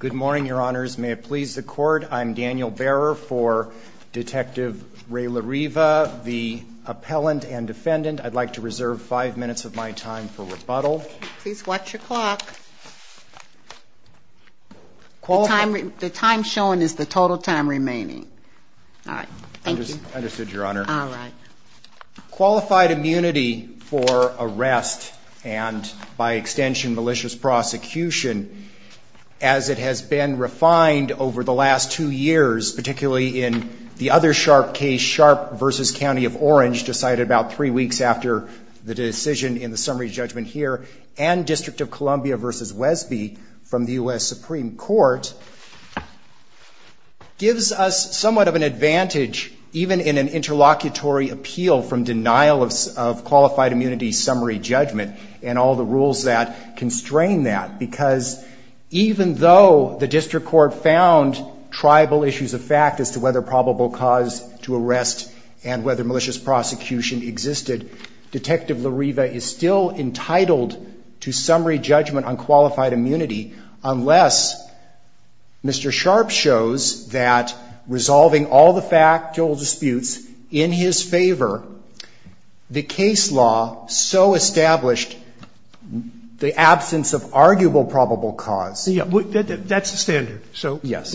Good morning, your honors. May it please the court, I'm Daniel Behrer for Detective Ray Larriva, the appellant and defendant. I'd like to reserve five minutes of my time for rebuttal. Please watch your clock. The time shown is the total time remaining. Understood, your honor. Qualified immunity for arrest and, by extension, malicious prosecution, as it has been refined over the last two years, particularly in the other sharp case, Sharp v. County of Orange, decided about three weeks after the decision in the summary judgment here, and District of Columbia v. Wesby from the U.S. Supreme Court, gives us somewhat of an advantage, even in an interlocutory appeal from the District Court, in the denial of qualified immunity summary judgment and all the rules that constrain that. Because even though the District Court found tribal issues of fact as to whether probable cause to arrest and whether malicious prosecution existed, Detective Larriva is still entitled to summary judgment on qualified immunity unless Mr. Sharp shows that the case law so established the absence of arguable probable cause. That's the standard. So let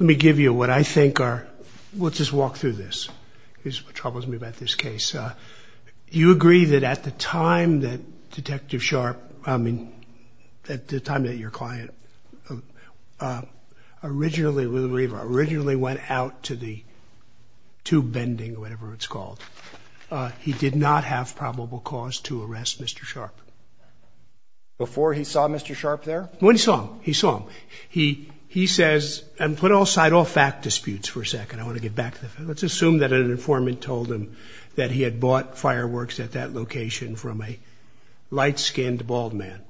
me give you what I think are... We'll just walk through this. This is what troubles me about this case. You agree that at the time that Detective Sharp, I mean, at the time that your client originally went out to the tube bending, whatever it's called, he did not have probable cause to arrest Mr. Sharp. Before he saw Mr. Sharp there? When he saw him. He saw him. He says, and put aside all fact disputes for a second. I want to get back to the fact. Let's assume that an informant told him that he had bought fireworks at that location from a light-skinned, bald man.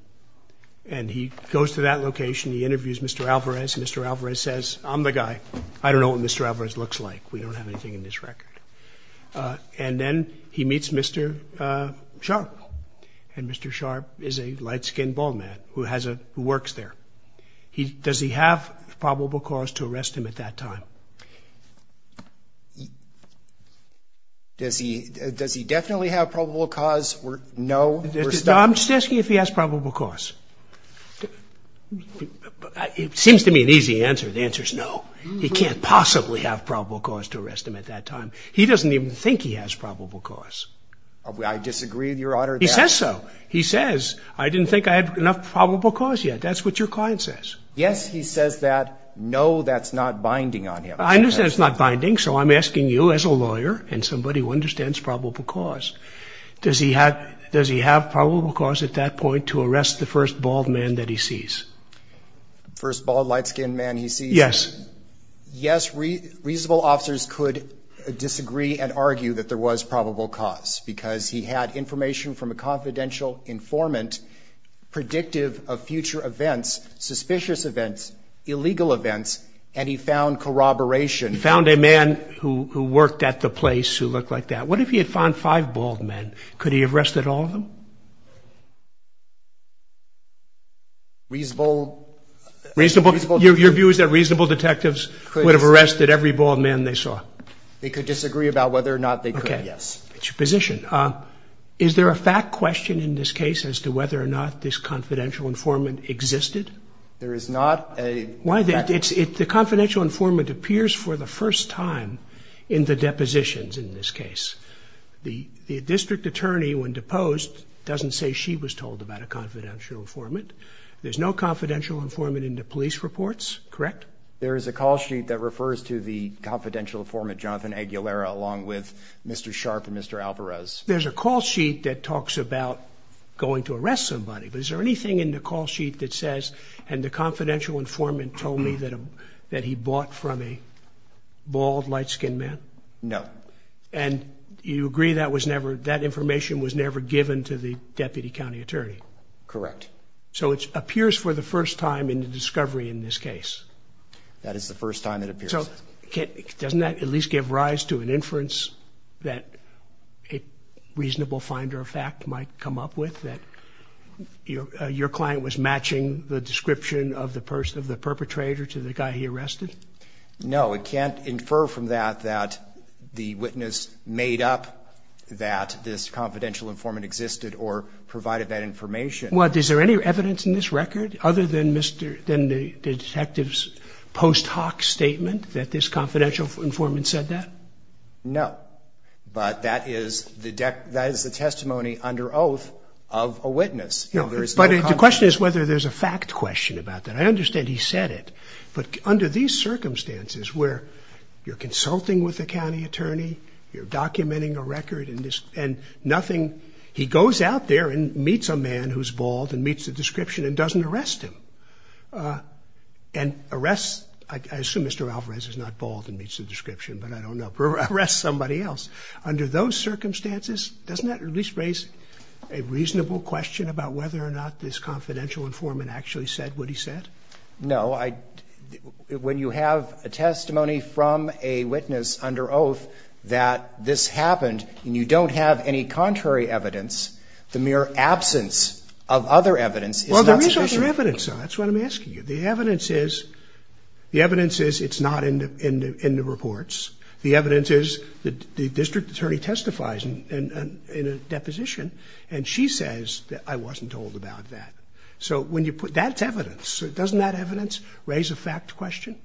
And he goes to that location. He interviews Mr. Alvarez. Mr. Alvarez says, I'm the guy. I don't know what Mr. Alvarez looks like. We don't have anything in this record. And then he meets Mr. Sharp. And Mr. Sharp is a light-skinned, bald man who has a... who works there. Does he have probable cause to arrest him at that time? Does he definitely have probable cause or no? I'm just asking if he has probable cause. It seems to me an easy answer. The answer is no. He can't possibly have probable cause to arrest him at that time. He doesn't even think he has probable cause. I disagree, Your Honor. He says so. He says, I didn't think I had enough probable cause yet. That's what your client says. Yes, he says that. No, that's not binding on him. I understand it's not binding. So I'm asking you as a lawyer and somebody who understands probable cause, does he have probable cause at that point to arrest the first bald man that he sees? First bald, light-skinned man he sees? Yes. Yes, reasonable officers could disagree and argue that there was probable cause because he had information from a confidential informant predictive of future events, suspicious events, illegal events, and he found corroboration. He found a man who worked at the place who looked like that. What if he had found five bald men? Could he have arrested all of them? Reasonable... Your view is that reasonable detectives would have arrested every bald man they saw? They could disagree about whether or not they could, yes. Okay, that's your position. Is there a fact question in this case as to whether or not this confidential informant existed? There is not a fact question. The confidential informant appears for the first time in the depositions in this case. The district attorney, when deposed, doesn't say she was told about a confidential informant. There's no confidential informant in the police reports, correct? There is a call sheet that refers to the confidential informant, Jonathan Aguilera, along with Mr. Sharp and Mr. Alvarez. There's a call sheet that talks about going to arrest somebody, but is there anything in the call sheet that says, and the confidential informant told me that he bought from a bald, light-skinned man? No. And you agree that information was never given to the deputy county attorney? Correct. So it appears for the first time in the discovery in this case? That is the first time it appears. So doesn't that at least give rise to an inference that a reasonable finder of fact might come up with, that your client was matching the description of the perpetrator to the guy he arrested? No. It can't infer from that that the witness made up that this confidential informant existed or provided that information. Well, is there any evidence in this record other than the detective's post hoc statement that this confidential informant said that? No. But that is the testimony under oath of a witness. But the question is whether there's a fact question about that. I understand he said it. But under these circumstances where you're consulting with a county attorney, you're documenting a record and nothing, he goes out there and meets a man who's bald and meets the description and doesn't arrest him and arrests, I assume Mr. Alvarez is not bald and meets the description, but I don't know, arrests somebody else. Under those circumstances, doesn't that at least raise a reasonable question about whether or not this confidential informant actually said what he said? No. When you have a testimony from a witness under oath that this happened and you don't have any contrary evidence, the mere absence of other evidence is not sufficient. Well, there is other evidence. That's what I'm asking you. The evidence is it's not in the reports. The evidence is the district attorney testifies in a deposition, and she says that I wasn't told about that. So that's evidence. Doesn't that evidence raise a fact question?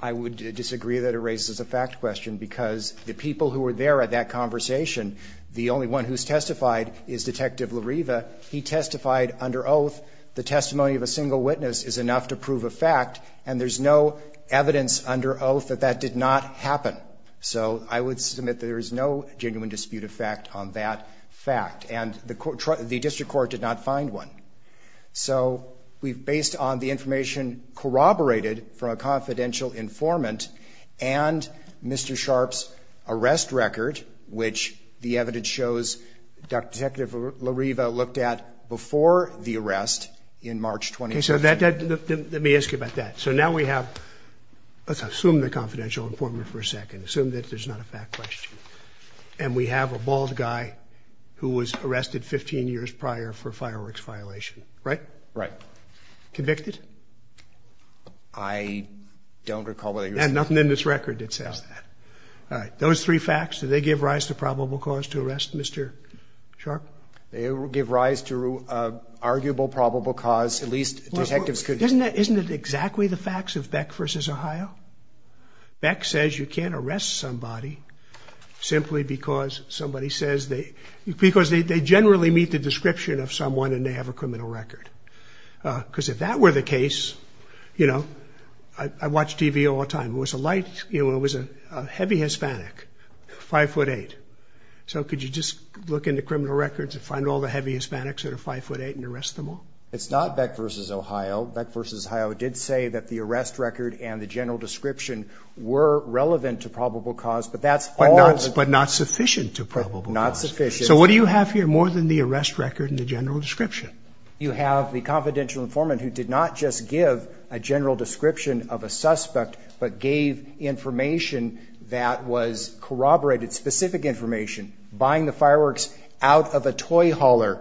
I would disagree that it raises a fact question because the people who were there at that conversation, the only one who's testified is Detective Lariva. He testified under oath the testimony of a single witness is enough to prove a fact, and there's no evidence under oath that that did not happen. So I would submit that there is no genuine dispute of fact on that fact. And the district court did not find one. So based on the information corroborated from a confidential informant and Mr. Sharp's arrest record, which the evidence shows Detective Lariva looked at before the arrest in March 2012. Okay. So let me ask you about that. So now we have, let's assume the confidential informant for a second, assume that there's not a fact question. And we have a bald guy who was arrested 15 years prior for fireworks violation, right? Right. Convicted? I don't recall whether he was convicted. Nothing in this record that says that. All right. Those three facts, do they give rise to probable cause to arrest Mr. Sharp? They give rise to arguable probable cause. At least detectives could. Isn't that, isn't it exactly the facts of Beck versus Ohio? Beck says you can't arrest somebody simply because somebody says they, because they generally meet the description of someone and they have a criminal record. Because if that were the case, you know, I watch TV all the time. It was a light, you know, it was a heavy Hispanic, five foot eight. So could you just look into criminal records and find all the heavy Hispanics that are five foot eight and arrest them all? It's not Beck versus Ohio. Beck versus Ohio did say that the arrest record and the general description were relevant to probable cause, but that's all. But not sufficient to probable cause. Not sufficient. So what do you have here more than the arrest record and the general description? You have the confidential informant who did not just give a general description of a suspect but gave information that was corroborated, specific information. Buying the fireworks out of a toy hauler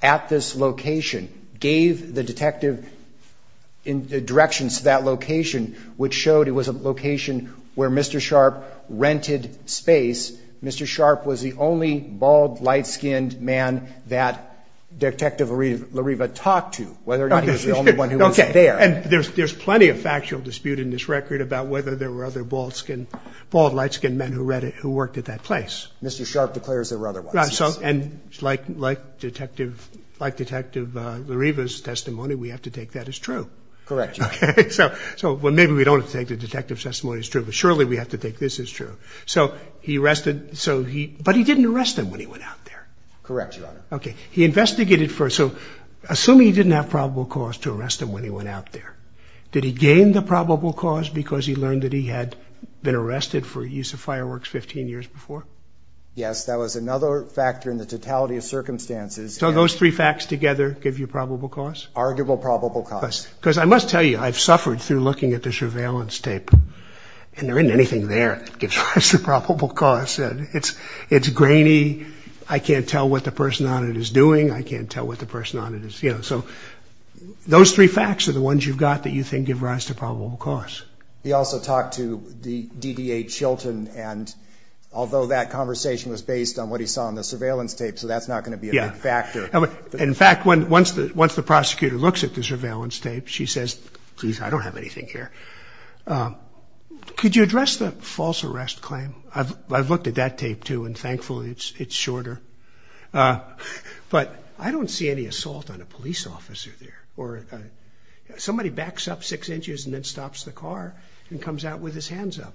at this location, gave the detective directions to that location, which showed it was a location where Mr. Sharp rented space. Mr. Sharp was the only bald, light-skinned man that Detective Lariva talked to, whether or not he was the only one who was there. Okay. And there's plenty of factual dispute in this record about whether there were other bald-skinned, bald, light-skinned men who read it, who worked at that place. Mr. Sharp declares there were other ones. Right. And like Detective Lariva's testimony, we have to take that as true. Correct, Your Honor. Okay. So maybe we don't have to take the detective's testimony as true, but surely we have to take this as true. But he didn't arrest him when he went out there. Correct, Your Honor. Okay. He investigated first. So assume he didn't have probable cause to arrest him when he went out there. Did he gain the probable cause because he learned that he had been arrested for use of fireworks 15 years before? Yes. That was another factor in the totality of circumstances. So those three facts together give you probable cause? Arguable probable cause. Because I must tell you, I've suffered through looking at this surveillance tape, and there isn't anything there that gives rise to probable cause. It's grainy. I can't tell what the person on it is doing. I can't tell what the person on it is, you know. So those three facts are the ones you've got that you think give rise to probable cause. He also talked to the DDA Chilton, and although that conversation was based on what he saw on the surveillance tape, so that's not going to be a big factor. In fact, once the prosecutor looks at the surveillance tape, she says, please, I don't have anything here. Could you address the false arrest claim? I've looked at that tape, too, and thankfully it's shorter. But I don't see any assault on a police officer there. Somebody backs up six inches and then stops the car and comes out with his hands up.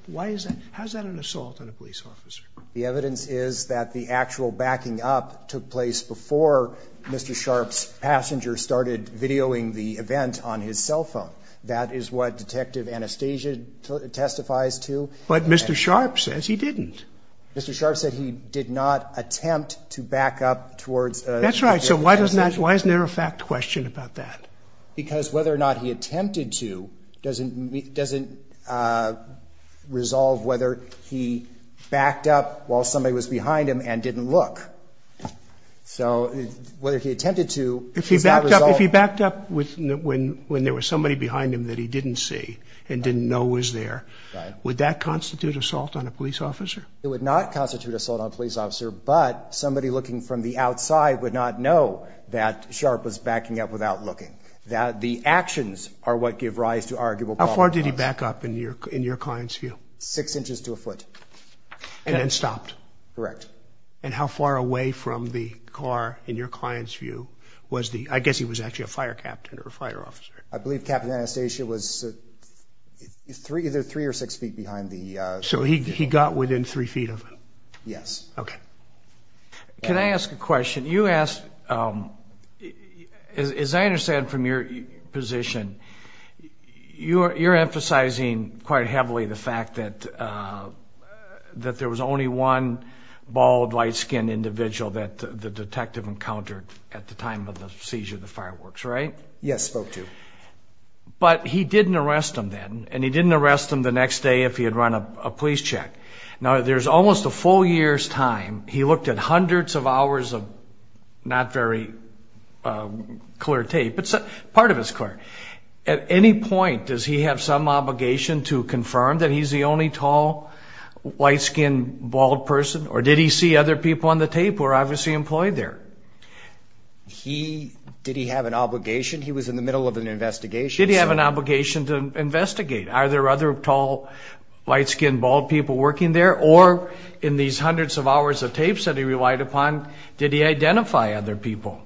How is that an assault on a police officer? The evidence is that the actual backing up took place before Mr. Sharpe's passenger started videoing the event on his cell phone. That is what Detective Anastasia testifies to. But Mr. Sharpe says he didn't. Mr. Sharpe said he did not attempt to back up towards a police officer. That's right. So why isn't there a fact question about that? Because whether or not he attempted to doesn't resolve whether he backed up while somebody was behind him and didn't look. So whether he attempted to is not resolved. If he backed up when there was somebody behind him that he didn't see and didn't know was there, would that constitute assault on a police officer? It would not constitute assault on a police officer, but somebody looking from the outside would not know that Sharpe was backing up without looking. The actions are what give rise to arguable problems. How far did he back up in your client's view? Six inches to a foot. And then stopped? Correct. And how far away from the car in your client's view was the, I guess he was actually a fire captain or a fire officer. I believe Captain Anastasia was either three or six feet behind the. So he got within three feet of him? Yes. Okay. Can I ask a question? You asked, as I understand from your position, you're emphasizing quite heavily the fact that there was only one bald, light-skinned individual that the detective encountered at the time of the seizure of the fireworks, right? Yes, spoke to. But he didn't arrest him then, and he didn't arrest him the next day if he had run a police check. Now, there's almost a full year's time. He looked at hundreds of hours of not very clear tape. Part of it's clear. At any point, does he have some obligation to confirm that he's the only tall, light-skinned, bald person? Or did he see other people on the tape who were obviously employed there? He, did he have an obligation? He was in the middle of an investigation. Did he have an obligation to investigate? Are there other tall, light-skinned, bald people working there? Or in these hundreds of hours of tapes that he relied upon, did he identify other people?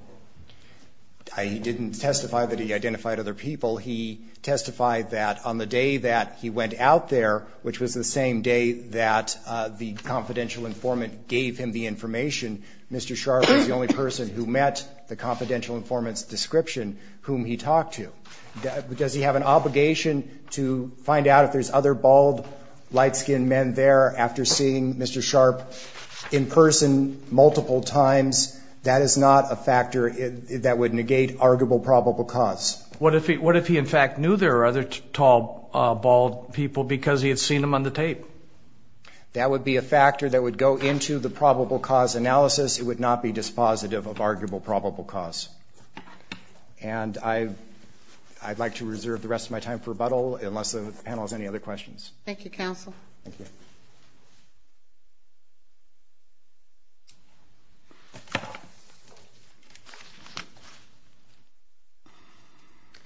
He didn't testify that he identified other people. He testified that on the day that he went out there, which was the same day that the confidential informant gave him the information, Mr. Scharff was the only person who met the confidential informant's description whom he talked to. Does he have an obligation to find out if there's other bald, light-skinned men there after seeing Mr. Scharff in person multiple times? That is not a factor that would negate arguable probable cause. What if he in fact knew there were other tall, bald people because he had seen them on the tape? That would be a factor that would go into the probable cause analysis. It would not be dispositive of arguable probable cause. And I'd like to reserve the rest of my time for rebuttal, unless the panel has any other questions. Thank you, Counsel.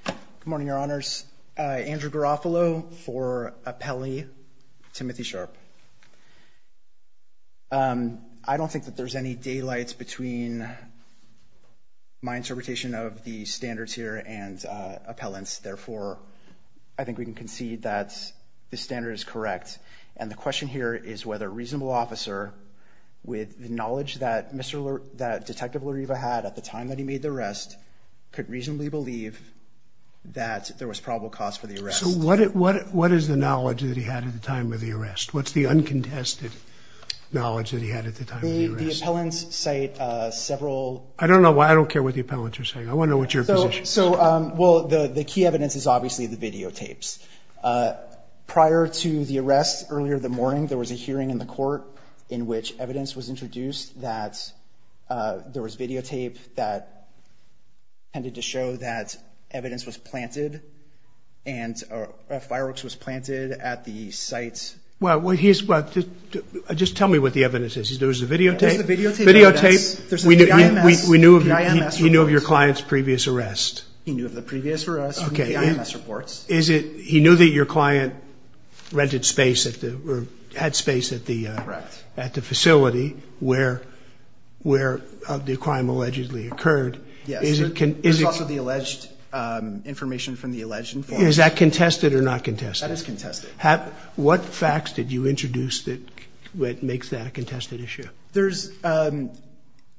Good morning, Your Honors. Andrew Garofalo for Appellee, Timothy Scharff. I don't think that there's any daylights between my interpretation of the standards here and appellants. Therefore, I think we can concede that the standard is correct. And the question here is whether a reasonable officer, with the knowledge that Detective Lariva had at the time that he made the arrest, could reasonably believe that there was probable cause for the arrest. So what is the knowledge that he had at the time of the arrest? What's the uncontested knowledge that he had at the time of the arrest? The appellants cite several... I don't know. I don't care what the appellants are saying. I want to know what your position is. So, well, the key evidence is obviously the videotapes. Prior to the arrest, earlier in the morning, there was a hearing in the court in which evidence was introduced that there was videotape that tended to show that evidence was planted and fireworks was planted at the site. Well, just tell me what the evidence is. There was a videotape? There's the videotape evidence. Videotape. There's the PIMS reports. He knew of your client's previous arrest. He knew of the previous arrest from the PIMS reports. Okay. He knew that your client rented space or had space at the facility where the crime allegedly occurred. Yes. There's also the alleged information from the alleged informant. Is that contested or not contested? That is contested. What facts did you introduce that makes that a contested issue? There's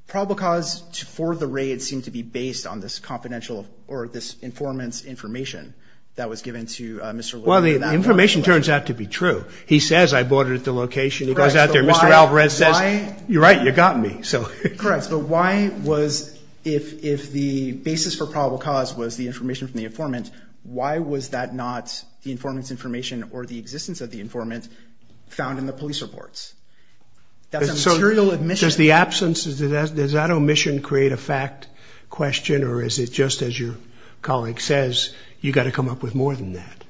probable cause for the raid seemed to be based on this confidential or this informant's information that was given to Mr. Lewin. Well, the information turns out to be true. He says, I bought it at the location. He goes out there. Mr. Alvarez says, you're right, you got me. Correct. But why was, if the basis for probable cause was the information from the informant's information or the existence of the informant found in the police reports? That's a material omission. Does the absence, does that omission create a fact question or is it just as your colleague says, you got to come up with more than that?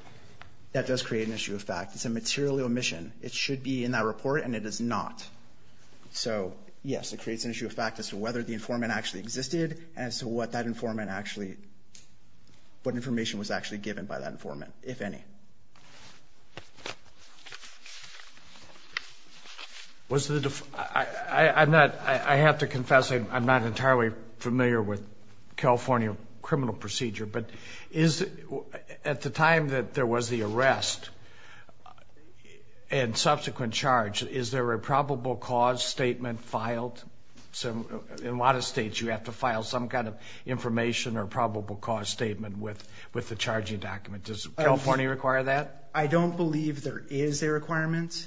That does create an issue of fact. It's a material omission. It should be in that report and it is not. So, yes, it creates an issue of fact as to whether the informant actually existed and as to what that informant actually, what information was actually given by that informant, if any. I have to confess, I'm not entirely familiar with California criminal procedure, but is, at the time that there was the arrest and subsequent charge, is there a probable cause statement filed? In a lot of states, you have to file some kind of information or probable cause statement with the charging document. Does California require that? I don't believe there is a requirement.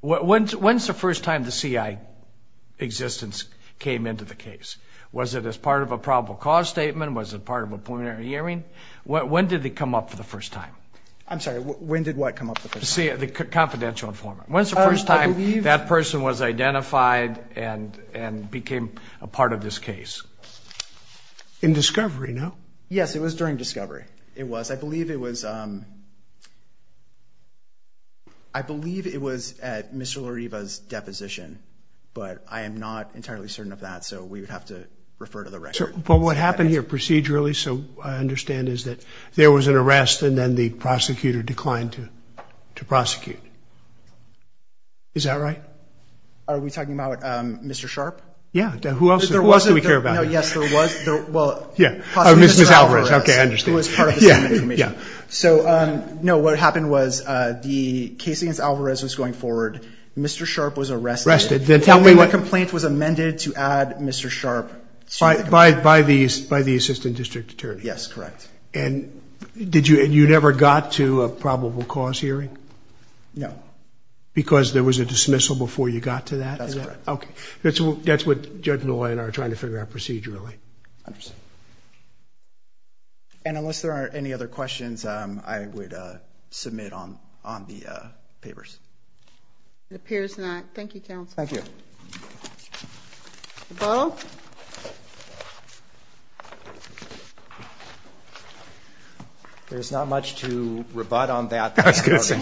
When's the first time the CI existence came into the case? Was it as part of a probable cause statement? Was it part of a preliminary hearing? When did they come up for the first time? I'm sorry, when did what come up for the first time? The confidential informant. When's the first time that person was identified and became a part of this case? In discovery, no? Yes, it was during discovery. It was. I believe it was at Mr. Lariva's deposition, but I am not entirely certain of that, so we would have to refer to the record. But what happened here procedurally, so I understand, is that there was an arrest and then the prosecutor declined to prosecute. Is that right? Are we talking about Mr. Sharp? Yeah. Who else do we care about? Yes, there was. Ms. Alvarez. Okay, I understand. No, what happened was the case against Alvarez was going forward. Mr. Sharp was arrested. Then the complaint was amended to add Mr. Sharp. By the assistant district attorney. Yes, correct. And you never got to a probable cause hearing? No. Because there was a dismissal before you got to that? That's correct. Okay. That's what Judge Noy and I are trying to figure out procedurally. I understand. And unless there are any other questions, I would submit on the papers. It appears not. Thank you, counsel. Thank you. Mr. Bowe. There's not much to rebut on that. I was going to say.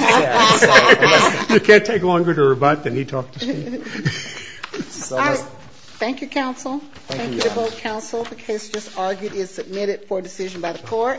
It can't take longer to rebut than he talked to me. Thank you, counsel. Thank you to both counsel. The case just argued is submitted for decision by the court.